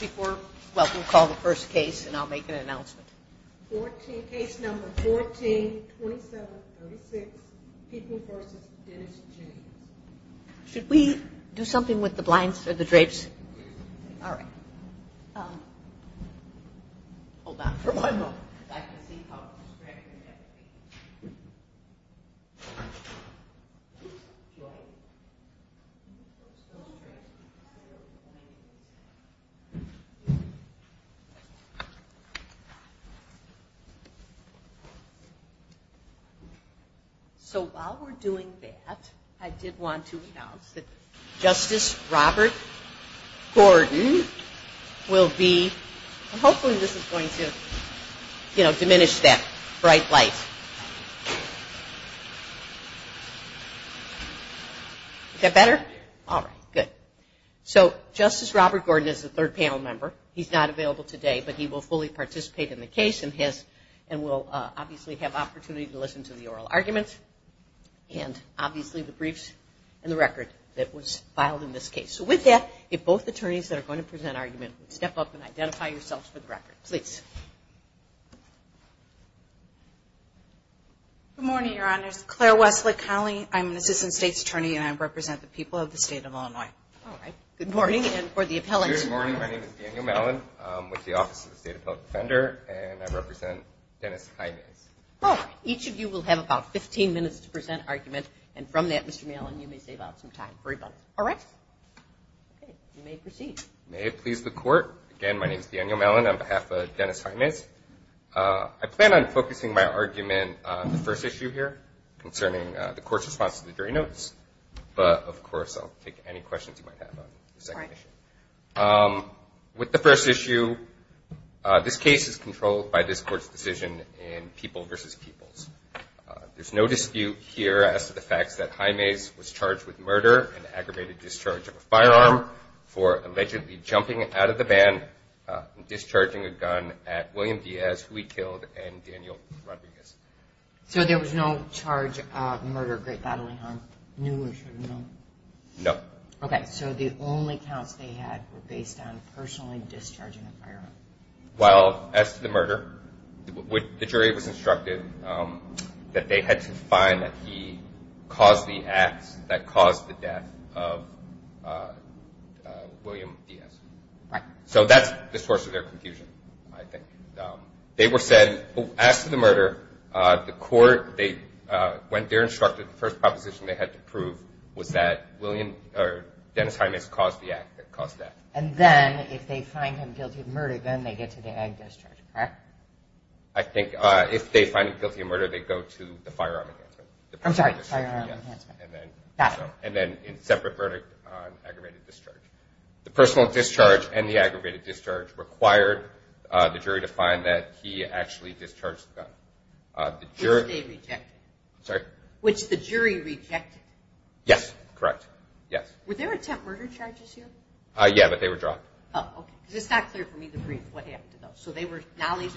Before, well, we'll call the first case and I'll make an announcement. Case number 14-27-36, People v. Dennis James. Should we do something with the blinds or the drapes? All right. Hold on for one moment. So while we're doing that, I did want to announce that Justice Robert Gordon will be, and hopefully this is going to, you know, diminish that bright light. Is that better? All right, good. So Justice Robert Gordon is the third panel member. He's not available today, but he will fully participate in the case and will obviously have opportunity to listen to the oral argument and obviously the briefs and the record that was filed in this case. So with that, if both attorneys that are going to present argument would step up and identify yourselves for the record. Please. Good morning, Your Honors. Claire Wesley, Connelly. I'm an Assistant State's Attorney and I represent the people of the state of Illinois. All right. Good morning. And for the appellants. Good morning. My name is Daniel Mellon. I'm with the Office of the State Appellate Defender and I represent Dennis Jaimes. Each of you will have about 15 minutes to present argument and from that, Mr. Mellon, you may save out some time for everybody. All right. You may proceed. May it please the court. Again, my name is Daniel Mellon on behalf of Dennis Jaimes. I plan on focusing my argument on the first issue here concerning the court's response to the jury notice. But, of course, I'll take any questions you might have on the second issue. With the first issue, this case is controlled by this court's decision in people versus peoples. There's no dispute here as to the facts that Jaimes was charged with murder and aggravated discharge of a firearm for allegedly jumping out of the van and discharging a gun at William Diaz, who he killed, and Daniel Rodriguez. So there was no charge of murder, great bodily harm, new or should have known? No. Okay. So the only counts they had were based on personally discharging a firearm. Well, as to the murder, the jury was instructed that they had to find that he caused the acts that caused the death of William Diaz. Right. So that's the source of their confusion, I think. They were said, as to the murder, the court, when they were instructed, the first proposition they had to prove was that Dennis Jaimes caused the act that caused the act. And then if they find him guilty of murder, then they get to the ag discharge, correct? I think if they find him guilty of murder, they go to the firearm enhancement. I'm sorry, the firearm enhancement. And then in separate verdict on aggravated discharge. The personal discharge and the aggravated discharge required the jury to find that he actually discharged the gun. Which they rejected. Sorry? Which the jury rejected. Yes. Correct. Yes. Were there attempt murder charges here? Yeah, but they were dropped. Oh, okay. Is this not clear for me to read, what happened to those?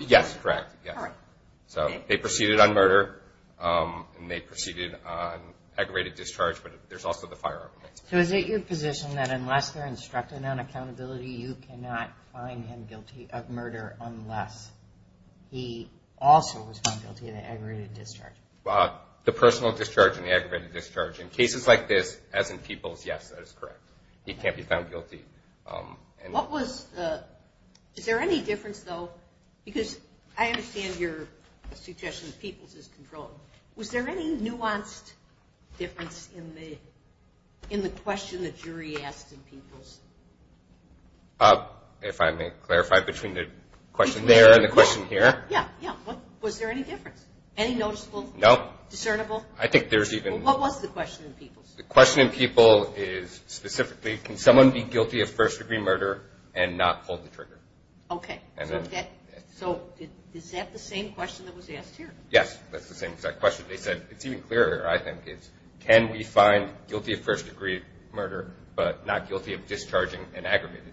Yes, correct. So they proceeded on murder, and they proceeded on aggravated discharge, but there's also the firearm enhancement. So is it your position that unless they're instructed on accountability, you cannot find him guilty of murder unless he also was found guilty of the aggravated discharge? The personal discharge and the aggravated discharge. In cases like this, as in Peoples, yes, that is correct. He can't be found guilty. Is there any difference, though, because I understand your suggestion that Peoples is controlled. Was there any nuanced difference in the question the jury asked in Peoples? If I may clarify, between the question there and the question here? Yeah, yeah. What was the question in Peoples? The question in Peoples is specifically, can someone be guilty of first degree murder and not pull the trigger? Okay, so is that the same question that was asked here? Yes, that's the same exact question. It's even clearer, I think. Can we find guilty of first degree murder but not guilty of discharging and aggravated?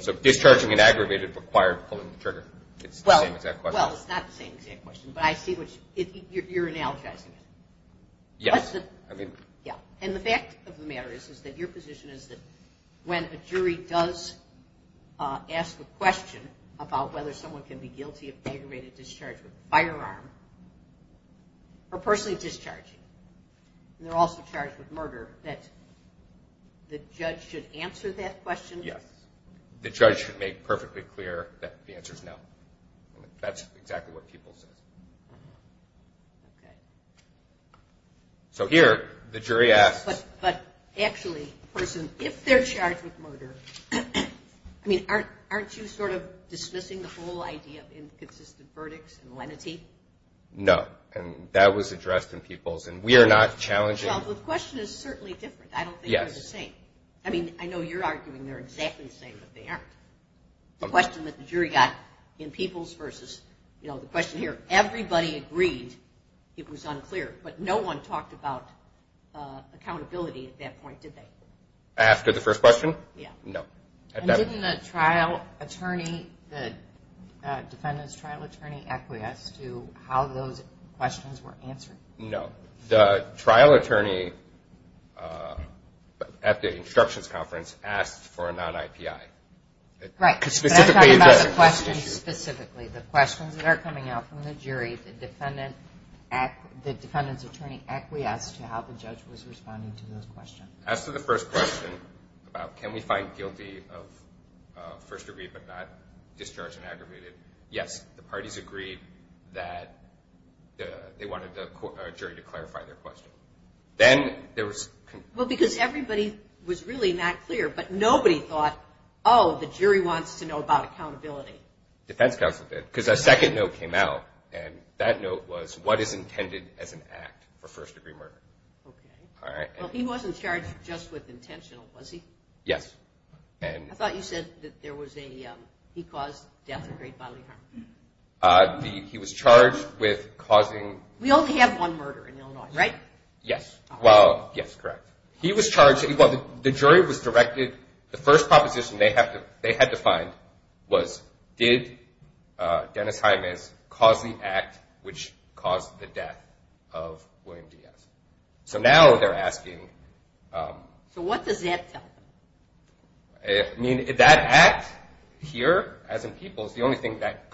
So discharging and aggravated required pulling the trigger. It's the same exact question. Well, it's not the same exact question, but I see you're analogizing it. Yes. And the fact of the matter is that your position is that when a jury does ask a question about whether someone can be guilty of aggravated discharge with a firearm or personally discharging, and they're also charged with murder, that the judge should answer that question? Yes. The judge should make perfectly clear that the answer is no. That's exactly what Peoples says. So here, the jury asks. But actually, if they're charged with murder, aren't you sort of dismissing the whole idea of inconsistent verdicts and lenity? No, and that was addressed in Peoples. Well, the question is certainly different. I don't think they're the same. I mean, I know you're arguing they're exactly the same, but they aren't. The question that the jury got in Peoples versus, you know, the question here, everybody agreed it was unclear, but no one talked about accountability at that point, did they? After the first question? No. And didn't the trial attorney, the defendant's trial attorney, acquiesce to how those questions were answered? No. The trial attorney at the instructions conference asked for a non-IPI. Right. But I'm talking about the questions specifically, the questions that are coming out from the jury, the defendant's attorney acquiesced to how the judge was responding to those questions. As to the first question about can we find guilty of first degree but not discharge and aggravated, yes, the parties agreed that they wanted the jury to clarify their question. Well, because everybody was really not clear, but nobody thought, oh, the jury wants to know about accountability. Defense counsel did, because a second note came out, and that note was what is intended as an act for first degree murder. Okay. Well, he wasn't charged just with intentional, was he? Yes. I thought you said that there was a, he caused death and great bodily harm. He was charged with causing. We only have one murder in Illinois, right? Yes. Well, yes, correct. He was charged, well, the jury was directed, the first proposition they had to find was did Dennis Jimenez cause the act which caused the death of William Diaz. So now they're asking. So what does that tell them? I mean, that act here, as in people's, the only thing that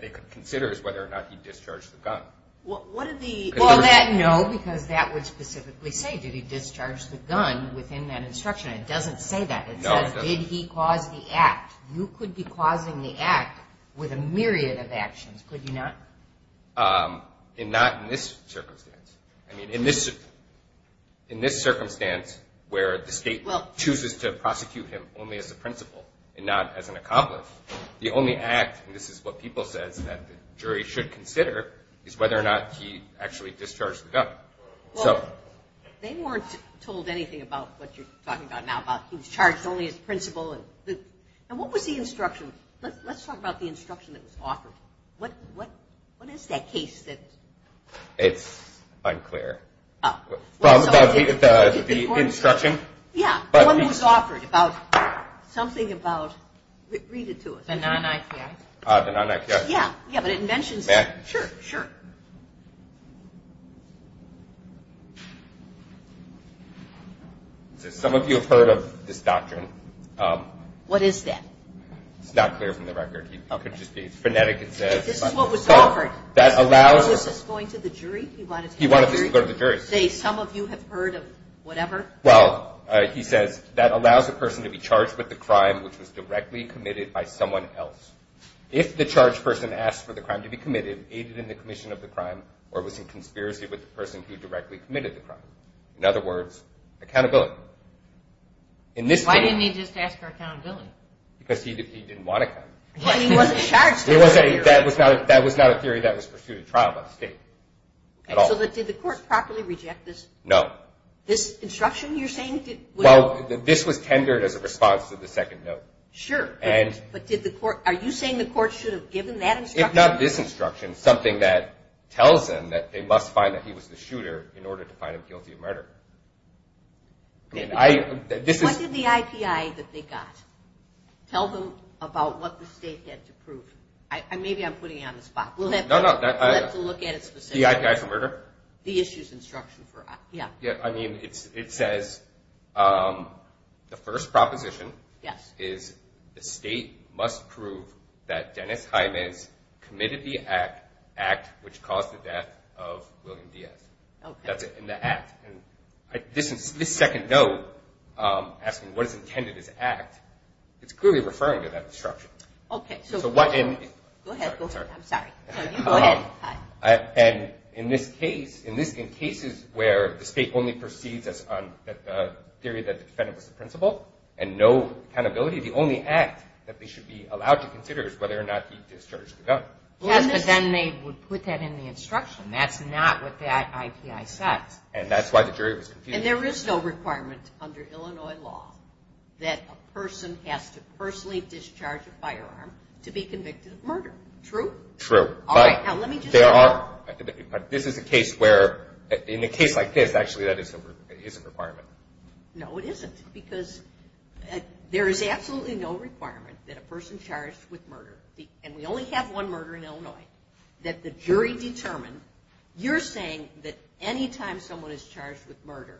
they could consider is whether or not he discharged the gun. Well, that, no, because that would specifically say did he discharge the gun within that instruction. It doesn't say that. It says did he cause the act. You could be causing the act with a myriad of actions, could you not? Not in this circumstance. I mean, in this circumstance where the state chooses to prosecute him only as a principal and not as an accomplice, the only act, and this is what people says that the jury should consider, is whether or not he actually discharged the gun. Well, they weren't told anything about what you're talking about now, about he was charged only as principal. And what was the instruction? Let's talk about the instruction that was offered. What is that case that? It's unclear. From the instruction? Yeah, the one that was offered about something about, read it to us. The non-IPA? Yeah, but it mentions, sure, sure. Some of you have heard of this doctrine. What is that? It's not clear from the record. It's phonetic. This is what was offered. He wanted this to go to the jury. Say some of you have heard of whatever? Well, he says that allows a person to be charged with a crime which was directly committed by someone else. If the charged person asked for the crime to be committed, aided in the commission of the crime, or was in conspiracy with the person who directly committed the crime. In other words, accountability. Why didn't he just ask for accountability? Because he didn't want accountability. That was not a theory that was pursued at trial by the state. No. This was tendered as a response to the second note. Sure, but are you saying the court should have given that instruction? If not this instruction, something that tells them that they must find that he was the shooter in order to find him guilty of murder. What did the IPA that they got tell them about what the state had to prove? Maybe I'm putting you on the spot. We'll have to look at it specifically. The IPA for murder? The issues instruction. It says the first proposition is the state must prove that Dennis Jimenez committed the act which caused the death of William Diaz. That's in the act. This second note, asking what is intended as act, it's clearly referring to that instruction. Go ahead. In cases where the state only proceeds on the theory that the defendant was the principal and no accountability, the only act that they should be allowed to consider is whether or not he discharged the gun. Yes, but then they would put that in the instruction. That's not what that IPA says. That's why the jury was confused. There is no requirement under Illinois law that a person has to personally discharge a firearm to be convicted of murder, true? True. In a case like this, actually, that is a requirement. No, it isn't because there is absolutely no requirement that a person charged with murder, and we only have one murder in Illinois, that the jury determine, you're saying that any time someone is charged with murder,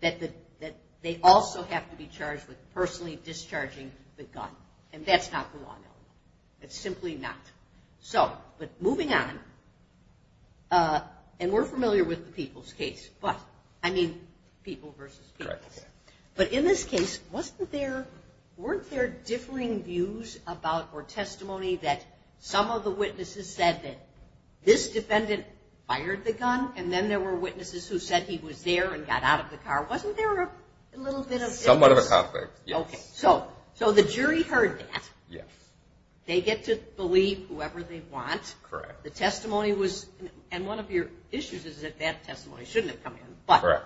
that they also have to be charged with personally discharging the gun, and that's not the law in Illinois. It's simply not. Moving on, and we're familiar with the people's case, but I mean people versus people. Correct. But in this case, weren't there differing views about or testimony that some of the witnesses said that this defendant fired the gun, and then there were witnesses who said he was there and got out of the car? Somewhat of a conflict, yes. Okay, so the jury heard that. They get to believe whoever they want. And one of your issues is that that testimony shouldn't have come in, but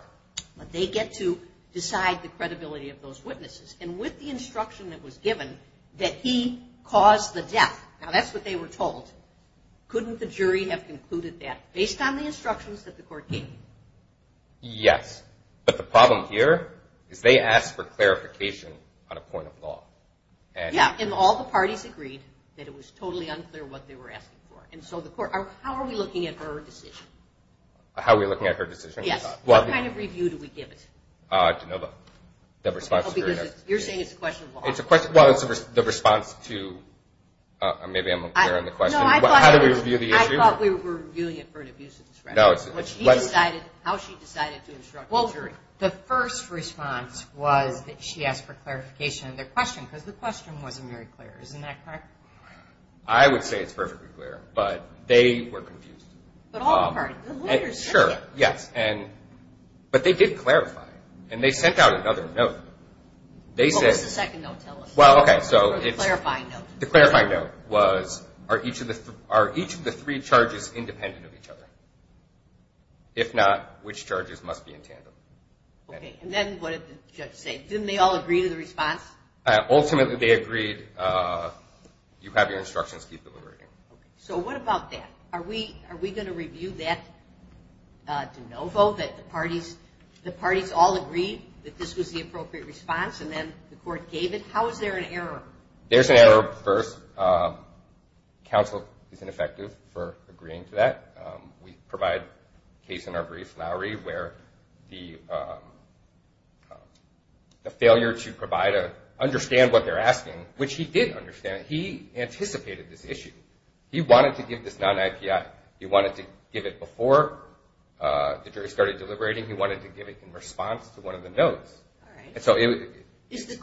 they get to decide the credibility of those witnesses, and with the instruction that was given that he caused the death, now that's what they were told, couldn't the jury have concluded that based on the instructions that the court gave? Yes, but the problem here is they asked for clarification on a point of law. Yeah, and all the parties agreed that it was totally unclear what they were asking for. And so the court, how are we looking at her decision? How are we looking at her decision? Yes. What kind of review do we give it? You're saying it's a question of law. Well, it's the response to, maybe I'm unclear on the question, how do we review the issue? I thought we were reviewing it for an abuse of discretion, how she decided to instruct the jury. Well, the first response was that she asked for clarification on their question, because the question wasn't very clear. Isn't that correct? I would say it's perfectly clear, but they were confused. Sure, yes, but they did clarify, and they sent out another note. What was the second note? The clarifying note was, are each of the three charges independent of each other? Okay, and then what did the judge say? Didn't they all agree to the response? Ultimately they agreed, you have your instructions, keep deliberating. Okay, so what about that? Are we going to review that de novo, that the parties all agreed that this was the appropriate response, and then the court gave it? How is there an error? There's an error first. Counsel is ineffective for agreeing to that. We provide a case in our brief, Lowery, where the failure to understand what they're asking, which he did understand, he anticipated this issue. He wanted to give this non-IPI, he wanted to give it before the jury started deliberating, he wanted to give it in response to one of the notes. We do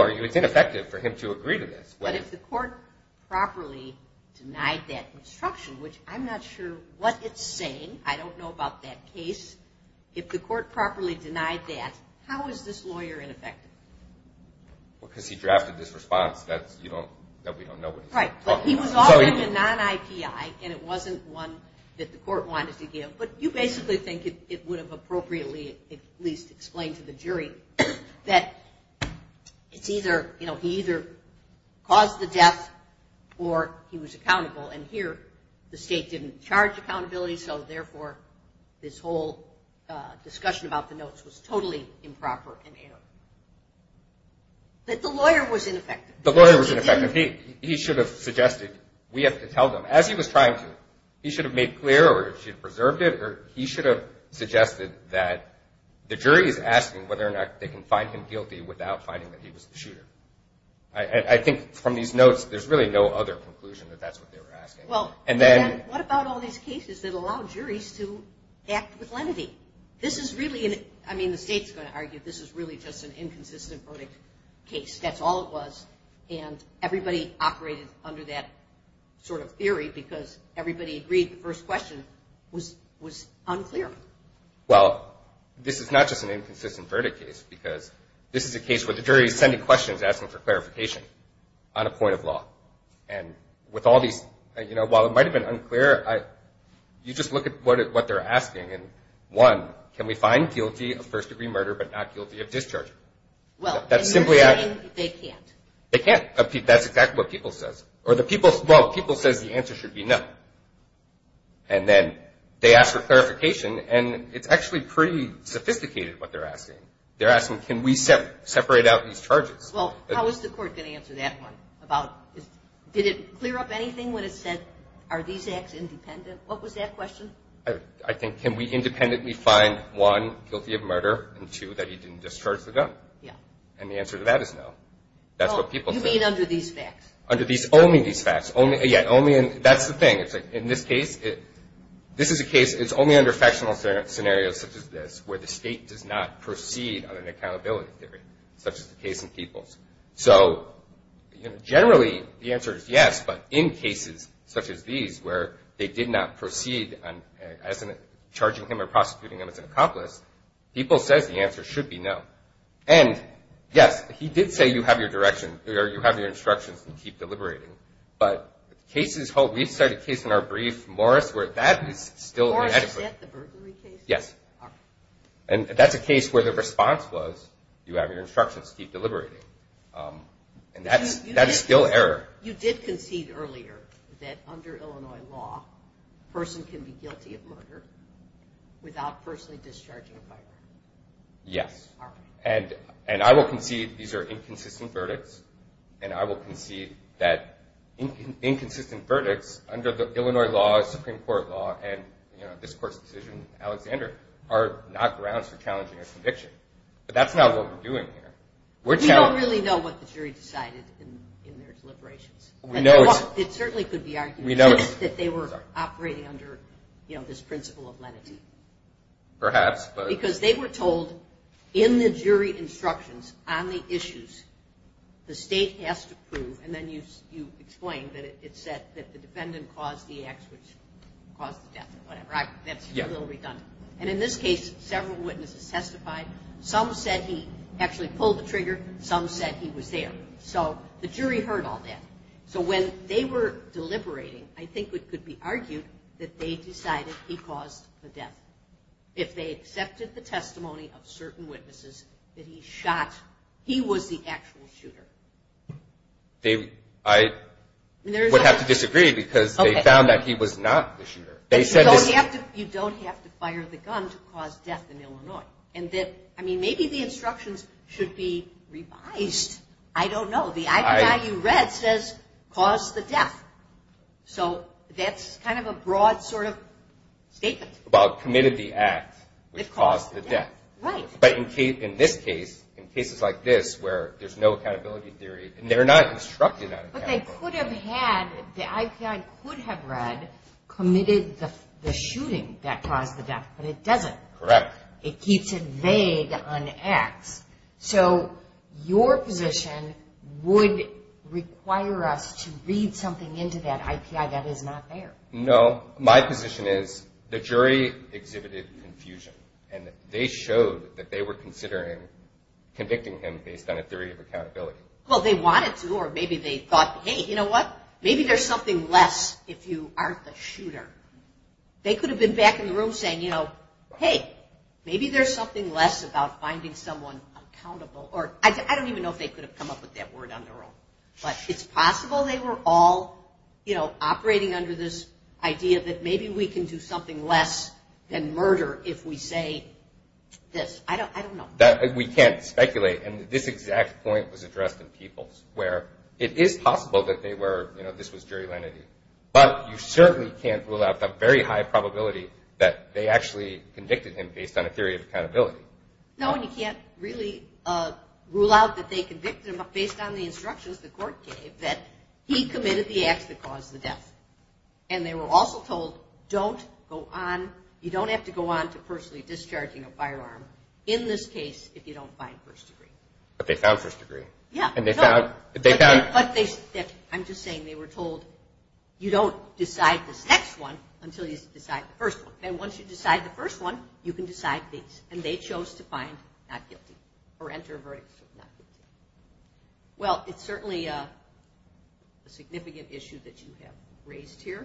argue it's ineffective for him to agree to this. But if the court properly denied that instruction, which I'm not sure what it's saying, I don't know about that case, if the court properly denied that, how is this lawyer ineffective? Because he drafted this response. That we don't know what he's talking about. He was offering a non-IPI, and it wasn't one that the court wanted to give. But you basically think it would have appropriately at least explained to the jury that it's either, he either caused the death or he was accountable. And here the state didn't charge accountability, so therefore this whole discussion about the notes was totally improper and erroneous. But the lawyer was ineffective. He should have suggested, we have to tell them, as he was trying to, he should have made clear or he should have preserved it, or he should have suggested that the jury is asking whether or not they can find him guilty without finding that he was the shooter. I think from these notes, there's really no other conclusion that that's what they were asking. What about all these cases that allow juries to act with lenity? This is really, I mean, the state's going to argue this is really just an inconsistent verdict case. That's all it was. And everybody operated under that sort of theory because everybody agreed the first question was unclear. Well, this is not just an inconsistent verdict case because this is a case where the jury is sending questions asking for clarification on a point of law. While it might have been unclear, you just look at what they're asking. One, can we find guilty of first-degree murder but not guilty of discharging? They can't. Well, people says the answer should be no. And then they ask for clarification, and it's actually pretty sophisticated what they're asking. They're asking, can we separate out these charges? Well, how is the court going to answer that one? Did it clear up anything when it said, are these acts independent? What was that question? I think, can we independently find, one, guilty of murder, and two, that he didn't discharge the gun? Yeah. And the answer to that is no. That's what people say. Only under factional scenarios such as this where the state does not proceed on an accountability theory such as the case in Peoples. So generally, the answer is yes, but in cases such as these where they did not proceed as in charging him or prosecuting him as an accomplice, people says the answer should be no. And, yes, he did say you have your instructions and keep deliberating. But we've cited a case in our brief, Morris, where that is still inadequate. Is that the burglary case? Yes. And that's a case where the response was you have your instructions, keep deliberating. And that's still error. You did concede earlier that under Illinois law, a person can be guilty of murder without personally discharging a firearm. Yes. And I will concede these are inconsistent verdicts, and I will concede that inconsistent verdicts under the Illinois law, Supreme Court law, and this Court's decision, Alexander, are not grounds for challenging a conviction. But that's not what we're doing here. We don't really know what the jury decided in their deliberations. It certainly could be argued that they were operating under, you know, this principle of lenity. Perhaps. Because they were told in the jury instructions on the issues, the State has to prove, and then you explained that it said that the defendant caused the accident, caused the death or whatever. That's a little redundant. And in this case, several witnesses testified. Some said he actually pulled the trigger. Some said he was there. So the jury heard all that. So when they were deliberating, I think it could be argued that they decided he caused the death. If they accepted the testimony of certain witnesses that he shot, he was the actual shooter. I would have to disagree because they found that he was not the shooter. You don't have to fire the gun to cause death in Illinois. I mean, maybe the instructions should be revised. I don't know. The IPI you read says caused the death. So that's kind of a broad sort of statement. Well, committed the act which caused the death. Right. But in this case, in cases like this where there's no accountability theory, and they're not instructed on accountability theory. But they could have had, the IPI could have read committed the shooting that caused the death. But it doesn't. Correct. It keeps it vague on X. So your position would require us to read something into that IPI that is not there. No, my position is the jury exhibited confusion. And they showed that they were considering convicting him based on a theory of accountability. Well, they wanted to, or maybe they thought, hey, you know what, maybe there's something less if you aren't the shooter. They could have been back in the room saying, you know, hey, maybe there's something less about finding someone accountable, or I don't even know if they could have come up with that word on their own. But it's possible they were all, you know, operating under this idea that maybe we can do something less than murder if we say this. I don't know. We can't speculate. And this exact point was addressed in Peoples, where it is possible that they were, you know, this was jury lenity. But you certainly can't rule out the very high probability that they actually convicted him based on a theory of accountability. No, and you can't really rule out that they convicted him based on the instructions the court gave that he committed the acts that caused the death. And they were also told, you don't have to go on to personally discharging a firearm in this case if you don't find first degree. But they found first degree. And they found... I'm just saying they were told, you don't decide this next one until you decide the first one. And once you decide the first one, you can decide these. And they chose to find not guilty or enter a verdict. Well, it's certainly a significant issue that you have raised here.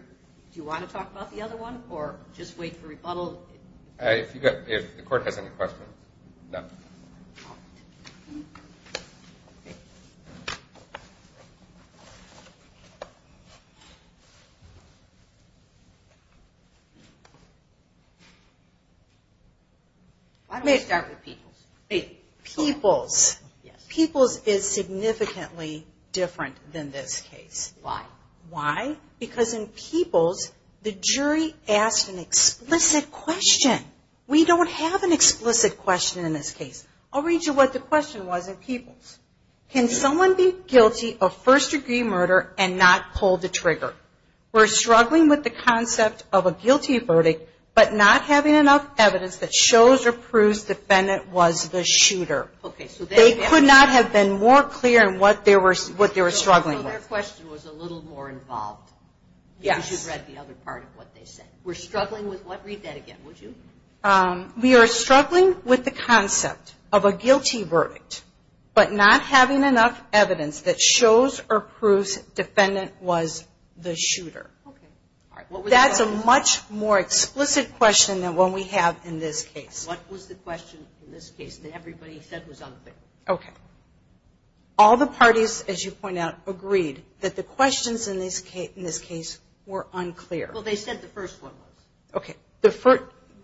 Do you want to talk about the other one or just wait for rebuttal? If the court has any questions. Why don't we start with Peoples? Peoples is significantly different than this case. Why? Because in Peoples, the jury asked an explicit question. We don't have an explicit question in this case. I'll read you what the question was in Peoples. Can someone be guilty of first degree murder and not pull the trigger? We're struggling with the concept of a guilty verdict, but not having enough evidence that shows or proves the defendant was the shooter. They could not have been more clear in what they were struggling with. Your question was a little more involved because you read the other part of what they said. Read that again, would you? We are struggling with the concept of a guilty verdict, but not having enough evidence that shows or proves the defendant was the shooter. That's a much more explicit question than what we have in this case. What was the question in this case that everybody said was unclear? All the parties, as you point out, agreed that the questions in this case were unclear. Well, they said the first one was.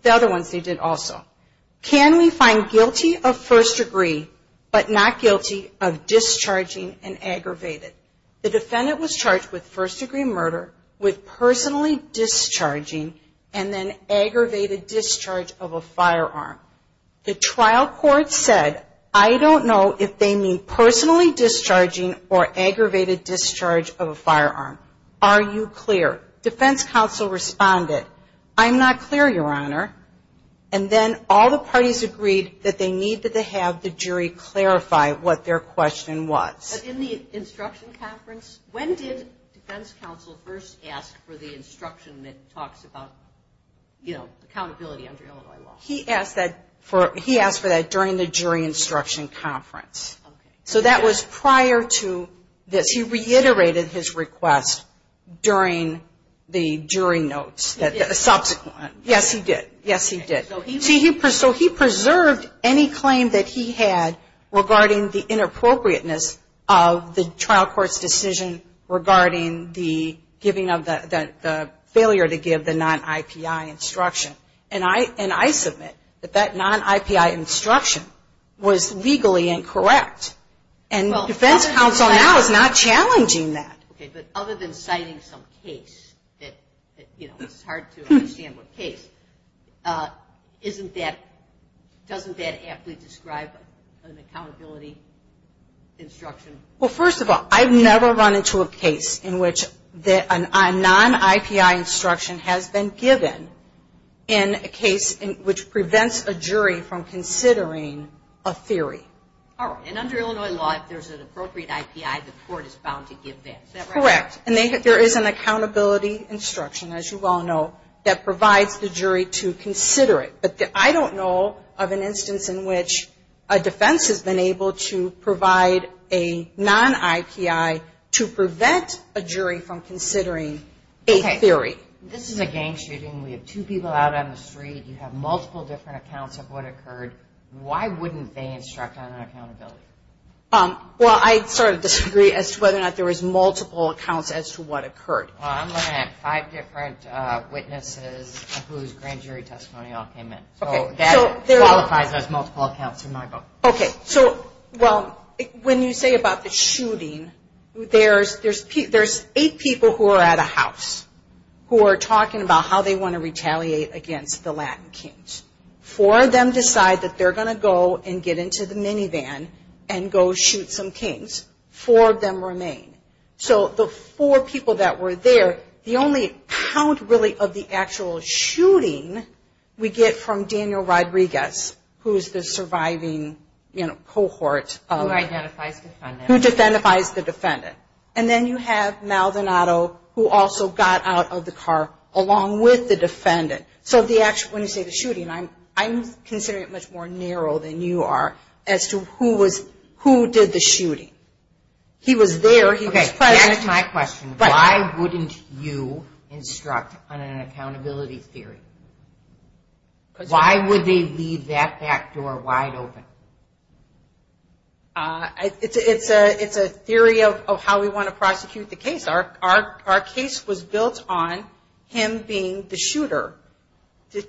The other ones they did also. Can we find guilty of first degree but not guilty of discharging and aggravated? The defendant was charged with first degree murder, with personally discharging, and then aggravated discharge of a firearm. The trial court said, I don't know if they mean personally discharging or aggravated discharge of a firearm. Are you clear? Defense counsel responded, I'm not clear, Your Honor. Then all the parties agreed that they needed to have the jury clarify what their question was. In the instruction conference, when did defense counsel first ask for the instruction that talks about accountability under Illinois law? He asked for that during the jury instruction conference. So that was prior to this. He reiterated his request during the jury notes, the subsequent. Yes, he did. Yes, he did. So he preserved any claim that he had regarding the inappropriateness of the trial court's decision regarding the failure to give the non-IPI instruction. And I submit that that non-IPI instruction was legally incorrect. And defense counsel now is not challenging that. Okay, but other than citing some case, it's hard to understand what case, doesn't that aptly describe an accountability instruction? Well, first of all, I've never run into a case in which a non-IPI instruction has been given in a case which prevents a jury from considering a theory. And under Illinois law, if there's an appropriate IPI, the court is bound to give that. Correct. And there is an accountability instruction, as you well know, that provides the jury to consider it. But I don't know of an instance in which a defense has been able to provide a non-IPI to prevent a jury from considering a theory. This is a gang shooting. We have two people out on the street. You have multiple different accounts of what occurred. Why wouldn't they instruct on accountability? Well, I sort of disagree as to whether or not there was multiple accounts as to what occurred. Well, I'm looking at five different witnesses whose grand jury testimony all came in. So that qualifies as multiple accounts in my book. Okay, so, well, when you say about the shooting, there's eight people who are at a house who are talking about how they want to retaliate against the Latin kings. Four of them decide that they're going to go and get into the minivan and go shoot some kings. Four of them remain. So the four people that were there, the only count really of the actual shooting we get from Daniel Rodriguez, who's the surviving cohort. Who identifies the defendant. And then you have Maldonado, who also got out of the car along with the defendant. So when you say the shooting, I'm considering it much more narrow than you are as to who did the shooting. He was there, he was present. Okay, that's my question. Why wouldn't you instruct on an accountability theory? Why would they leave that back door wide open? It's a theory of how we want to prosecute the case. Our case was built on him being the shooter.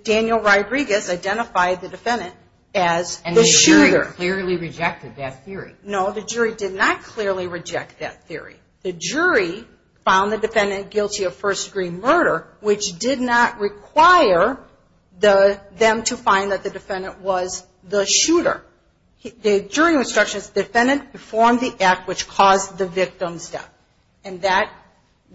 Daniel Rodriguez identified the defendant as the shooter. The jury clearly rejected that theory. No, the jury did not clearly reject that theory. The jury found the defendant guilty of first degree murder, which did not require them to find that the defendant was the shooter. The jury instructions the defendant perform the act which caused the victim's death. And that,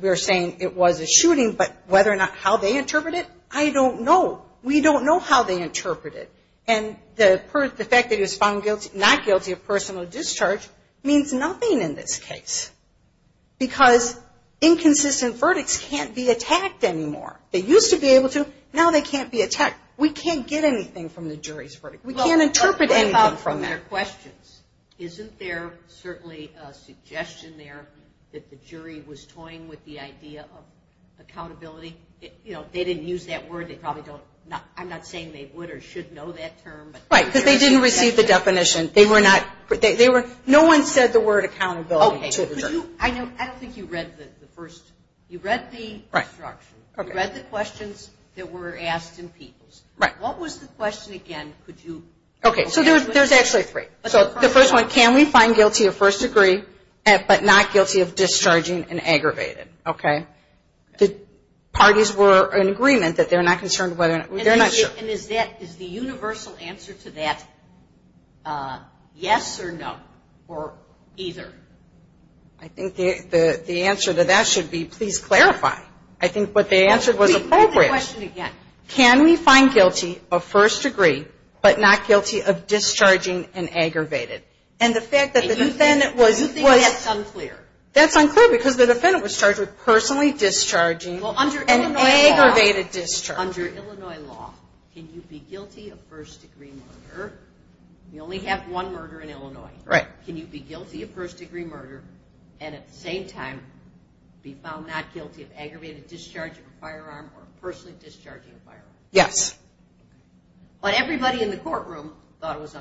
we're saying it was a shooting, but whether or not how they interpret it, I don't know. We don't know how they interpret it. And the fact that he was found not guilty of personal discharge means nothing in this case. Because inconsistent verdicts can't be attacked anymore. They used to be able to, now they can't be attacked. We can't get anything from the jury's verdict. We can't interpret anything from that. Isn't there certainly a suggestion there that the jury was toying with the idea of accountability? They didn't use that word. I'm not saying they would or should know that term. Right, because they didn't receive the definition. No one said the word accountability to the jury. I don't think you read the first, you read the instructions. You read the questions that were asked in Peoples. What was the question again? Okay, so there's actually three. So the first one, can we find guilty of first degree but not guilty of discharging and aggravated? The parties were in agreement that they're not concerned whether or not, they're not sure. And is the universal answer to that yes or no or either? I think the answer to that should be please clarify. I think what they answered was appropriate. Can we find guilty of first degree but not guilty of discharging and aggravated? You think that's unclear. That's unclear because the defendant was charged with personally discharging and aggravated discharging. Under Illinois law, can you be guilty of first degree murder? You only have one murder in Illinois. Right. Can you be guilty of first degree murder and at the same time be found not guilty of aggravated discharging of a firearm or personally discharging a firearm? Yes. But everybody in the courtroom thought it was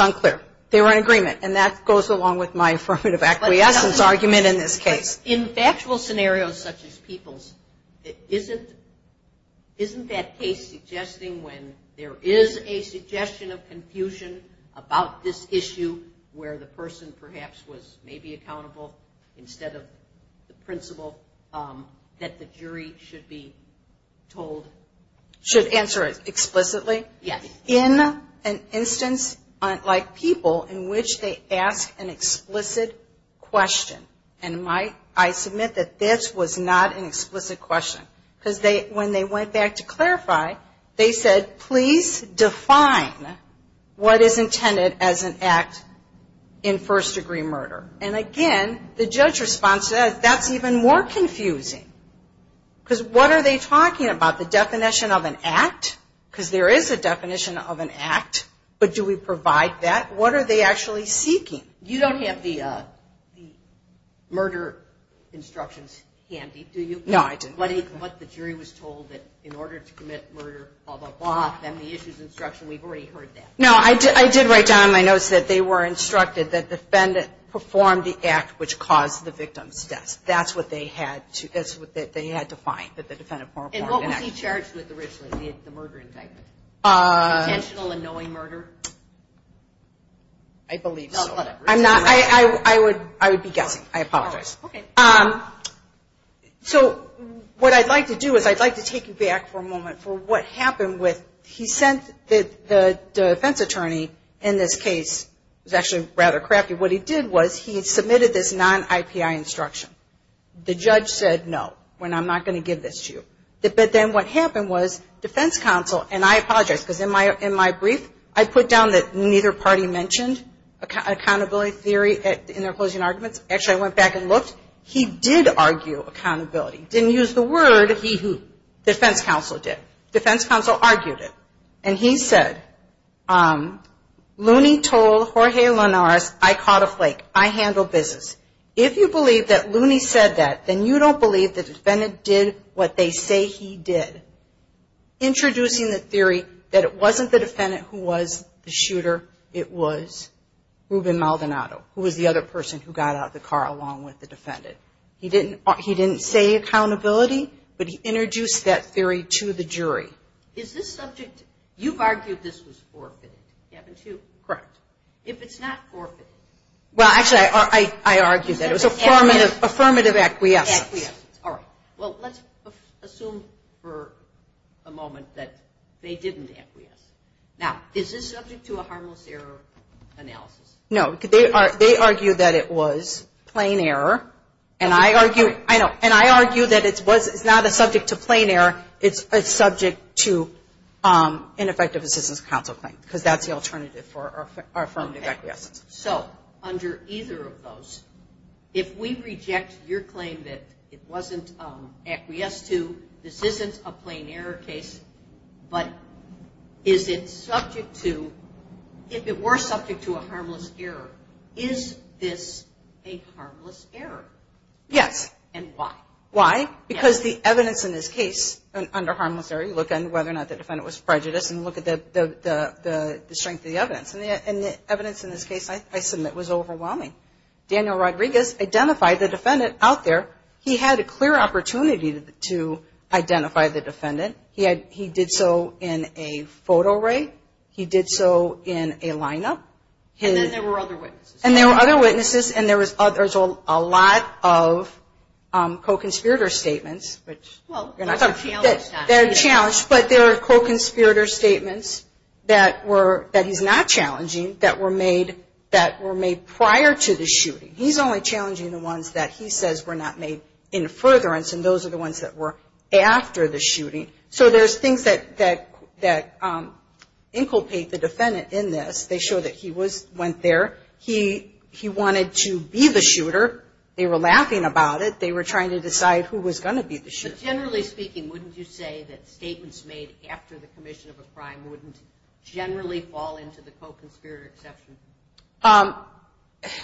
unclear. They were in agreement and that goes along with my affirmative acquiescence argument in this case. In factual scenarios such as people's, isn't that case suggesting when there is a suggestion of confusion about this issue where the person perhaps was maybe accountable instead of the principle that the jury should be told? Should answer it explicitly? Yes. In an instance like people in which they ask an explicit question and I submit that this was not an explicit question. Because when they went back to clarify, they said please define what is intended as an act in first degree murder. And again, the judge response to that, that's even more confusing. Because what are they talking about, the definition of an act? Because there is a definition of an act, but do we provide that? What are they actually seeking? You don't have the murder instructions handy, do you? No, I didn't. And what was he charged with originally, the murder indictment? Intentional and knowing murder? I believe so. I would be guessing, I apologize. So what I'd like to do is I'd like to take you back for a moment for what happened with, he sent the defense attorney in this case, it was actually rather crappy, what he did was he submitted this non-IPI instruction. The judge said no, we're not going to give this to you. But then what happened was defense counsel, and I apologize because in my brief I put down that neither party mentioned accountability theory in their closing arguments. Actually I went back and looked. He did argue accountability, didn't use the word he who, defense counsel did. Defense counsel argued it. And he said, Looney told Jorge Linares I caught a flake, I handle business. If you believe that Looney said that, then you don't believe the defendant did what they say he did. Introducing the theory that it wasn't the defendant who was the shooter, it was Ruben Maldonado, who was the other person who got out of the car along with the defendant. He didn't say accountability, but he introduced that theory to the jury. Is this subject, you've argued this was forfeited, haven't you? Correct. If it's not forfeited. Well, actually I argued that it was affirmative acquiescence. Well, let's assume for a moment that they didn't acquiesce. Now, is this subject to a harmless error analysis? No, they argued that it was plain error, and I argue that it's not a subject to plain error, it's a subject to an effective assistance counsel claim, because that's the alternative for affirmative acquiescence. So, under either of those, if we reject your claim that it wasn't acquiesced to, this isn't a plain error case, but is it subject to, if it were subject to a harmless error, is this a harmless error? Yes. And why? Why? Because the evidence in this case under harmless error, you look at whether or not the defendant was prejudiced and look at the strength of the evidence. And the evidence in this case I submit was overwhelming. Daniel Rodriguez identified the defendant out there. He had a clear opportunity to identify the defendant. He did so in a photo rate. He did so in a lineup. And then there were other witnesses. And there was a lot of co-conspirator statements. They're challenged, but there are co-conspirator statements that he's not challenging that were made prior to the shooting. He's only challenging the ones that he says were not made in furtherance, and those are the ones that were after the shooting. So there's things that inculcate the defendant in this. They show that he went there. He wanted to be the shooter. They were laughing about it. They were trying to decide who was going to be the shooter. But generally speaking, wouldn't you say that statements made after the commission of a crime wouldn't generally fall into the co-conspirator exception?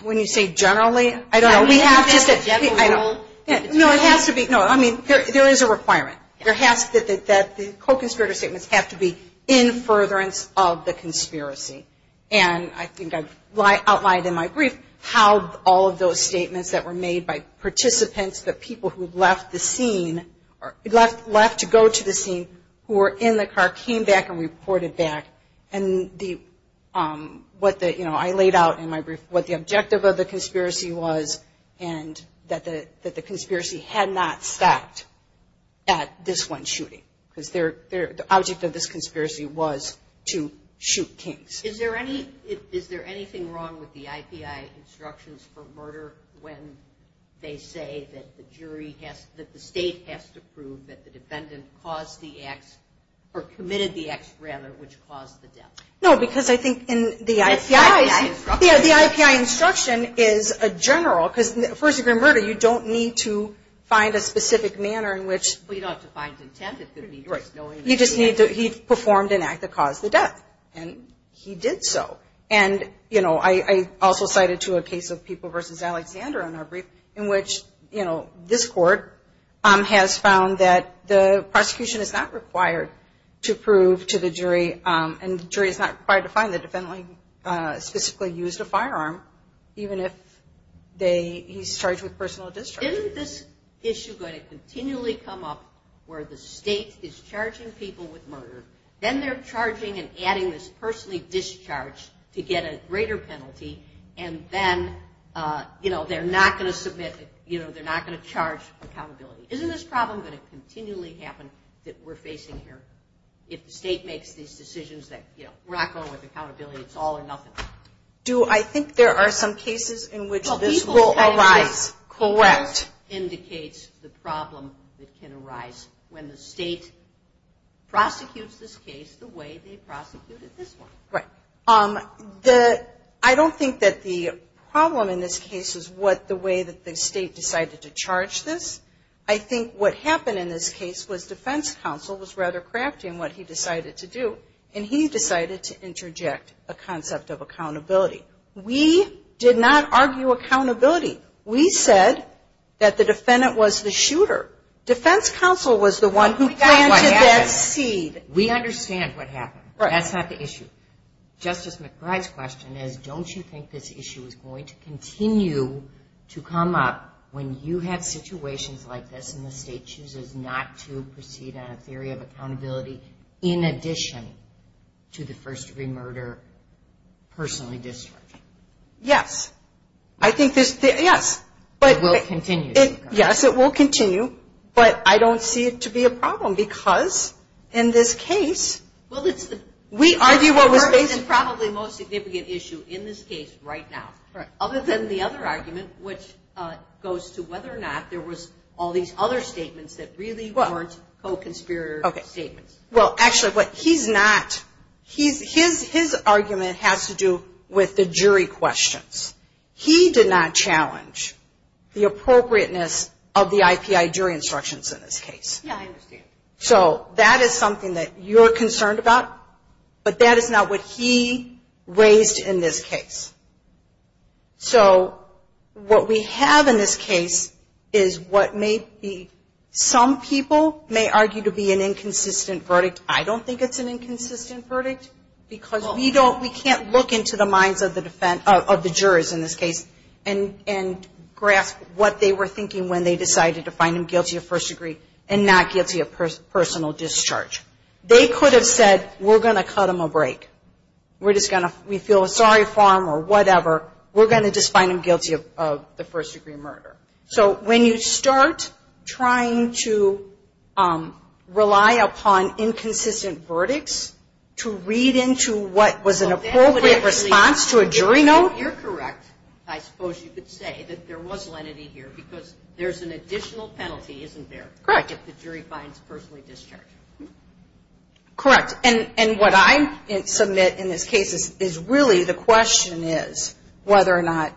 When you say generally, I don't know. We have to say generally. No, it has to be. There is a requirement that the co-conspirator statements have to be in furtherance of the conspiracy. And I think I've outlined in my brief how all of those statements that were made by participants, the people who left to go to the scene, who were in the car, came back and reported back. And what I laid out in my brief, what the conspiracy had not stopped at this one shooting, because the object of this conspiracy was to shoot Kings. Is there anything wrong with the IPI instructions for murder when they say that the state has to prove that the defendant committed the acts which caused the death? No, because I think in the IPI instruction is general. Because first degree murder, you don't need to find a specific manner in which he performed an act that caused the death. And he did so. And I also cited to a case of People v. Alexander in our brief in which this court has found that the prosecution is not required to prove to the jury, and the jury is not required to find the defendant specifically used a firearm, even if he's charged with personal discharge. Isn't this issue going to continually come up where the state is charging people with murder, then they're charging and adding this personally discharged to get a greater penalty, and then they're not going to submit, they're not going to charge accountability? Isn't this problem going to continually happen that we're facing here if the state makes these decisions that we're not going with accountability, it's all or nothing? I think there are some cases in which this will arise. Correct. Indicates the problem that can arise when the state prosecutes this case the way they decided to charge this. I think what happened in this case was defense counsel was rather crafty in what he decided to do, and he decided to interject a concept of accountability. We did not argue accountability. We said that the defendant was the shooter. Defense counsel was the one who planted that seed. We understand what happened. That's not the issue. Justice McBride's question is, don't you think this issue is going to continue to come up when you have situations like this and the state chooses not to proceed on a theory of accountability in addition to the first degree murder personally discharged? Yes. I think this, yes. It will continue. Yes, it will continue, but I don't see it to be a problem because in this case we argue what was basic. Probably the most significant issue in this case right now, other than the other argument, which goes to whether or not there was all these other statements that really weren't co-conspirator statements. Well, actually, what he's not, his argument has to do with the jury questions. He did not challenge the appropriateness of the IPI jury instructions in this case. Yeah, I understand. So that is something that you're concerned about, but that is not what he raised in this case. So what we have in this case is what may be, some people may argue to be an inconsistent verdict. I don't think it's an inconsistent verdict because we can't look into the minds of the jurors in this case and grasp what they were thinking when they decided to find him guilty of first degree and not guilty of personal discharge. They could have said, we're going to cut him a break. We feel sorry for him or whatever. We're going to just find him guilty of the first degree murder. So when you start trying to rely upon inconsistent verdicts to read into what was an appropriate response to a jury note. You're correct, I suppose you could say, that there was lenity here because there's an additional penalty, isn't there, if the jury finds personally discharged? Correct. And what I submit in this case is really the question is whether or not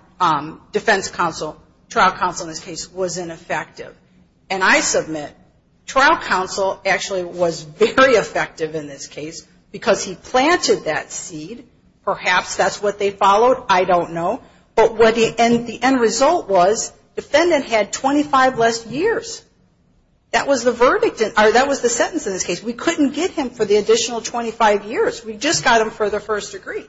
defense counsel, trial counsel in this case, was ineffective. And I submit trial counsel actually was very effective in this case because he planted that seed. Perhaps that's what they followed. I don't know. And the end result was defendant had 25 less years. That was the sentence in this case. We couldn't get him for the additional 25 years. We just got him for the first degree.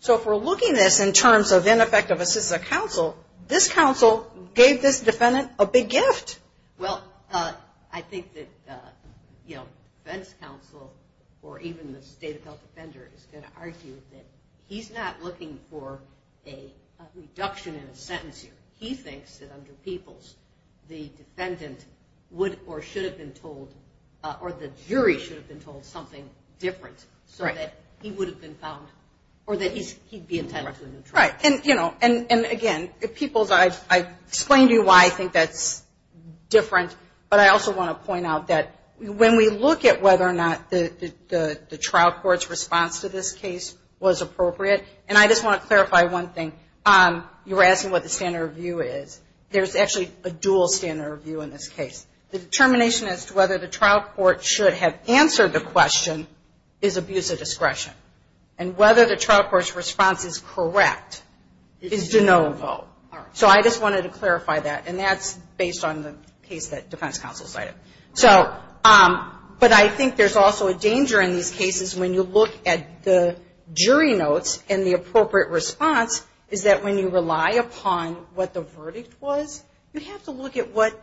So if we're looking at this in terms of ineffective assistance of counsel, this counsel gave this defendant a big gift. Well, I think that defense counsel or even the state of health offender is going to argue that he's not looking for a reduction in a sentence here. He thinks that under Peoples the defendant would or should have been told or the jury should have been told something different so that he would have been found or that he'd be entitled to a new trial. Right. And again, Peoples, I explained to you why I think that's different, but I also want to point out that when we look at whether or not the trial court's response to this case was appropriate, and I just want to clarify one thing. You were asking what the standard review is. There's actually a dual standard review in this case. The determination as to whether the trial court should have answered the question is abuse of discretion. And whether the trial court's response is correct is de novo. So I just wanted to clarify that, and that's based on the case that defense counsel cited. But I think there's also a danger in these cases when you look at the jury notes and the appropriate response is that when you rely upon what the verdict was, you have to look at what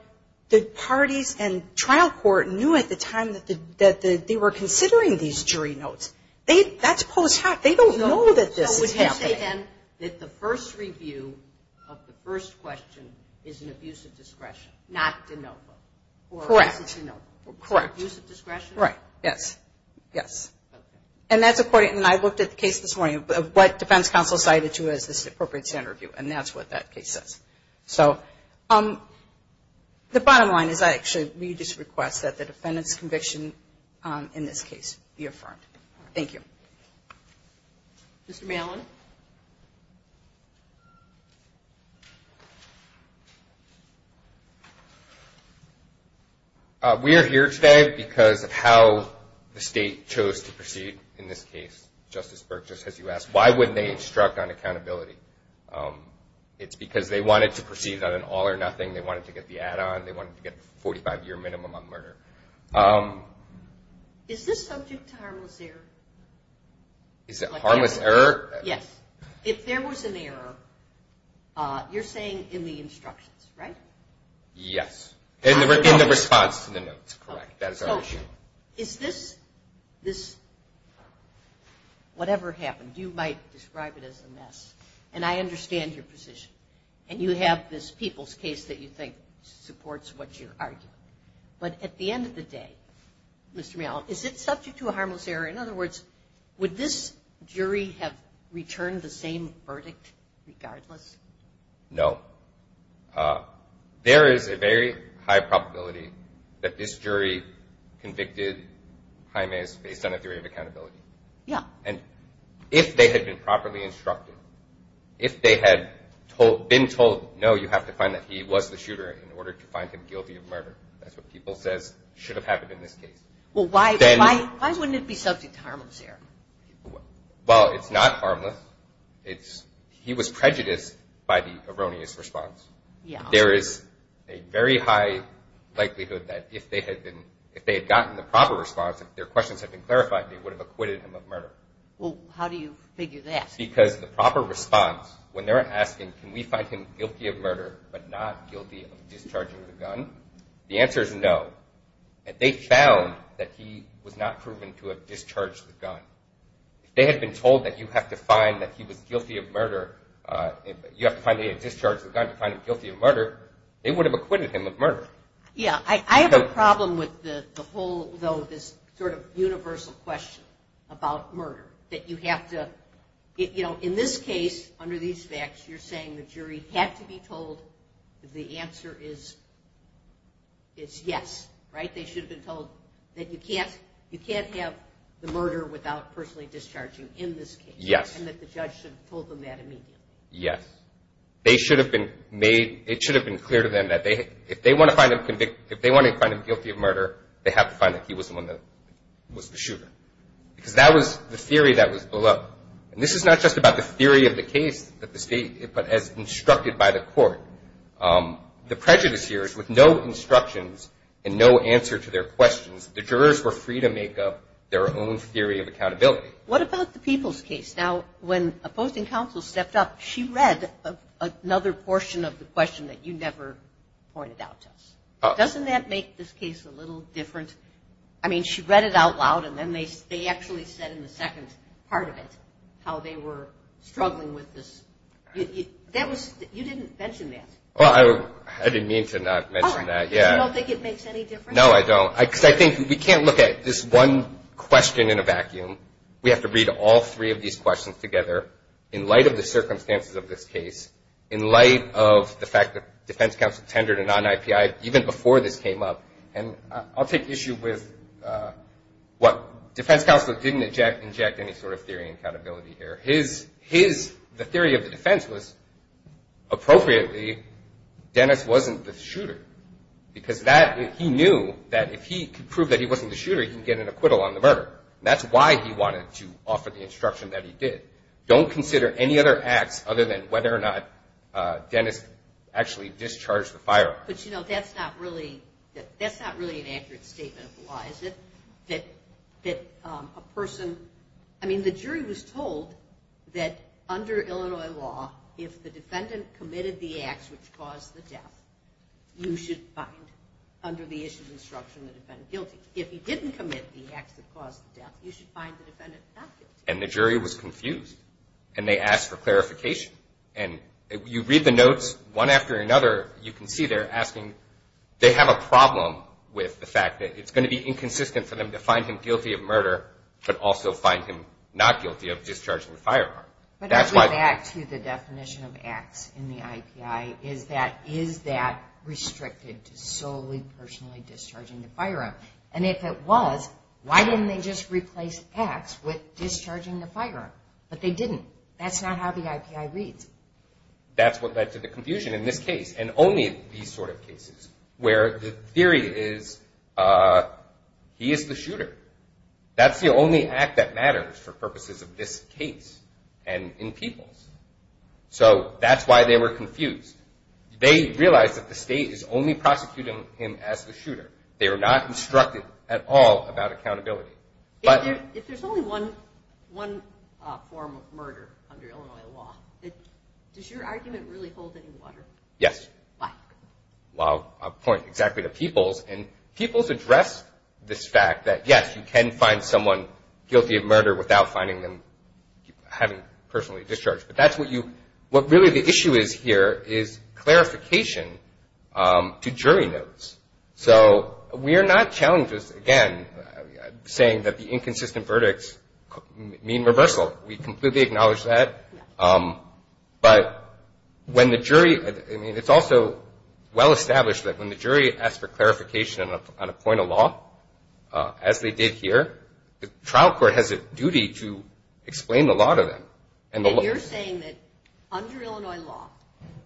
the parties and trial court knew at the time that they were considering these jury notes. That's post hoc. They don't know that this is happening. So would you say, then, that the first review of the first question is an abuse of discretion, not de novo? Correct. Or is it de novo? Correct. Abuse of discretion? Right. Yes. Yes. And that's according, and I looked at the case this morning, what defense counsel cited to as the appropriate standard review. And that's what that case says. So the bottom line is I actually read this request that the defendant's conviction in this case be affirmed. Thank you. Mr. Malin. We are here today because of how the state chose to proceed in this case. Justice Burke, just as you asked, why wouldn't they instruct on accountability? It's because they wanted to proceed on an all or nothing. They wanted to get the add-on. They wanted to get a 45-year minimum on murder. Is this subject to harmless error? Is it harmless error? Yes. If there was an error, you're saying in the instructions, right? Yes. In the response to the notes, correct. That is our issue. Is this, whatever happened, you might describe it as a mess. And I understand your position. And you have this people's case that you think supports what you're arguing. But at the end of the day, Mr. Malin, is it subject to a harmless error? In other words, would this jury have returned the same verdict regardless? No. There is a very high probability that this jury convicted Jaimez based on a theory of accountability. And if they had been properly instructed, if they had been told, no, you have to find that he was the shooter in order to find him guilty of murder. That's what people says should have happened in this case. Why wouldn't it be subject to harmless error? Well, it's not harmless. He was prejudiced by the erroneous response. There is a very high likelihood that if they had gotten the proper response, if their questions had been clarified, they would have acquitted him of murder. How do you figure that? Because the proper response, when they're asking, can we find him guilty of murder but not guilty of discharging the gun? The answer is no. They found that he was not proven to have discharged the gun. If they had been told that you have to find that he was guilty of murder, you have to find that he had discharged the gun to find him guilty of murder, they would have acquitted him of murder. I have a problem with the whole universal question about murder. In this case, under these facts, you're saying the jury had to be told that the answer is yes, right? They should have been told that you can't have the murder without personally discharging in this case. Yes. And that the judge should have told them that immediately. Yes. It should have been clear to them that if they wanted to find him guilty of murder, they have to find that he was the one that was the shooter. Because that was the theory that was below. And this is not just about the theory of the case, but as instructed by the court. The prejudice here is with no instructions and no answer to their questions, the jurors were free to make up their own theory of accountability. What about the people's case? Now, when a posting counsel stepped up, she read another portion of the question that you never pointed out to us. Doesn't that make this case a little different? I mean, she read it out loud, and then they actually said in the second part of it how they were struggling with this. You didn't mention that. Well, I didn't mean to not mention that. No, I don't. Because I think we can't look at this one question in a vacuum. We have to read all three of these questions together in light of the circumstances of this case, in light of the fact that defense counsel tendered a non-IPI even before this came up. And I'll take issue with what defense counsel didn't inject any sort of theory of accountability here. The theory of the defense was, appropriately, Dennis wasn't the shooter. Because he knew that if he could prove that he wasn't the shooter, he could get an acquittal on the murder. That's why he wanted to offer the instruction that he did. Don't consider any other acts other than whether or not Dennis actually discharged the firearm. But, you know, that's not really an accurate statement of the law, is it? That a person, I mean, the jury was told that under Illinois law, if the defendant committed the acts which caused the death, you should find, under the issue of instruction, the defendant guilty. If he didn't commit the acts that caused the death, you should find the defendant not guilty. And the jury was confused. And they asked for clarification. And you read the notes, one after another, you can see they're asking, they have a problem with the fact that it's going to be inconsistent for them to find him guilty of murder, but also find him not guilty of discharging the firearm. But I go back to the definition of acts in the IPI, is that restricted to solely personally discharging the firearm? And if it was, why didn't they just replace acts with discharging the firearm? But they didn't. That's not how the IPI reads. That's what led to the confusion in this case, and only these sort of cases, where the theory is he is the shooter. That's the only act that matters for purposes of this case, and in people's. So that's why they were confused. They realized that the state is only prosecuting him as the shooter. They were not instructed at all about accountability. If there's only one form of murder under Illinois law, does your argument really hold any water? I'll point exactly to people's, and people's address this fact that yes, you can find someone guilty of murder without finding them having personally discharged. But what really the issue is here is clarification to jury notes. So we are not challenging this, again, saying that the inconsistent verdicts mean reversal. We completely acknowledge that. But it's also well established that when the jury asks for clarification on a point of law, as they did here, the trial court has a duty to explain the law to them. And you're saying that under Illinois law,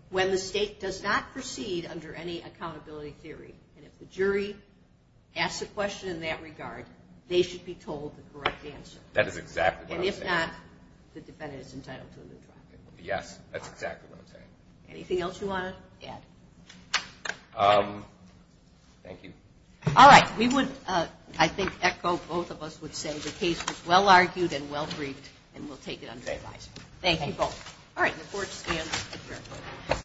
when the state does not proceed under any accountability theory, and if the jury asks a question in that regard, they should be told the correct answer. And if not, the defendant is entitled to a new trial. Anything else you want to add? Thank you. All right. We would, I think, echo what both of us would say. The case was well-argued and well-briefed, and we'll take it under revise.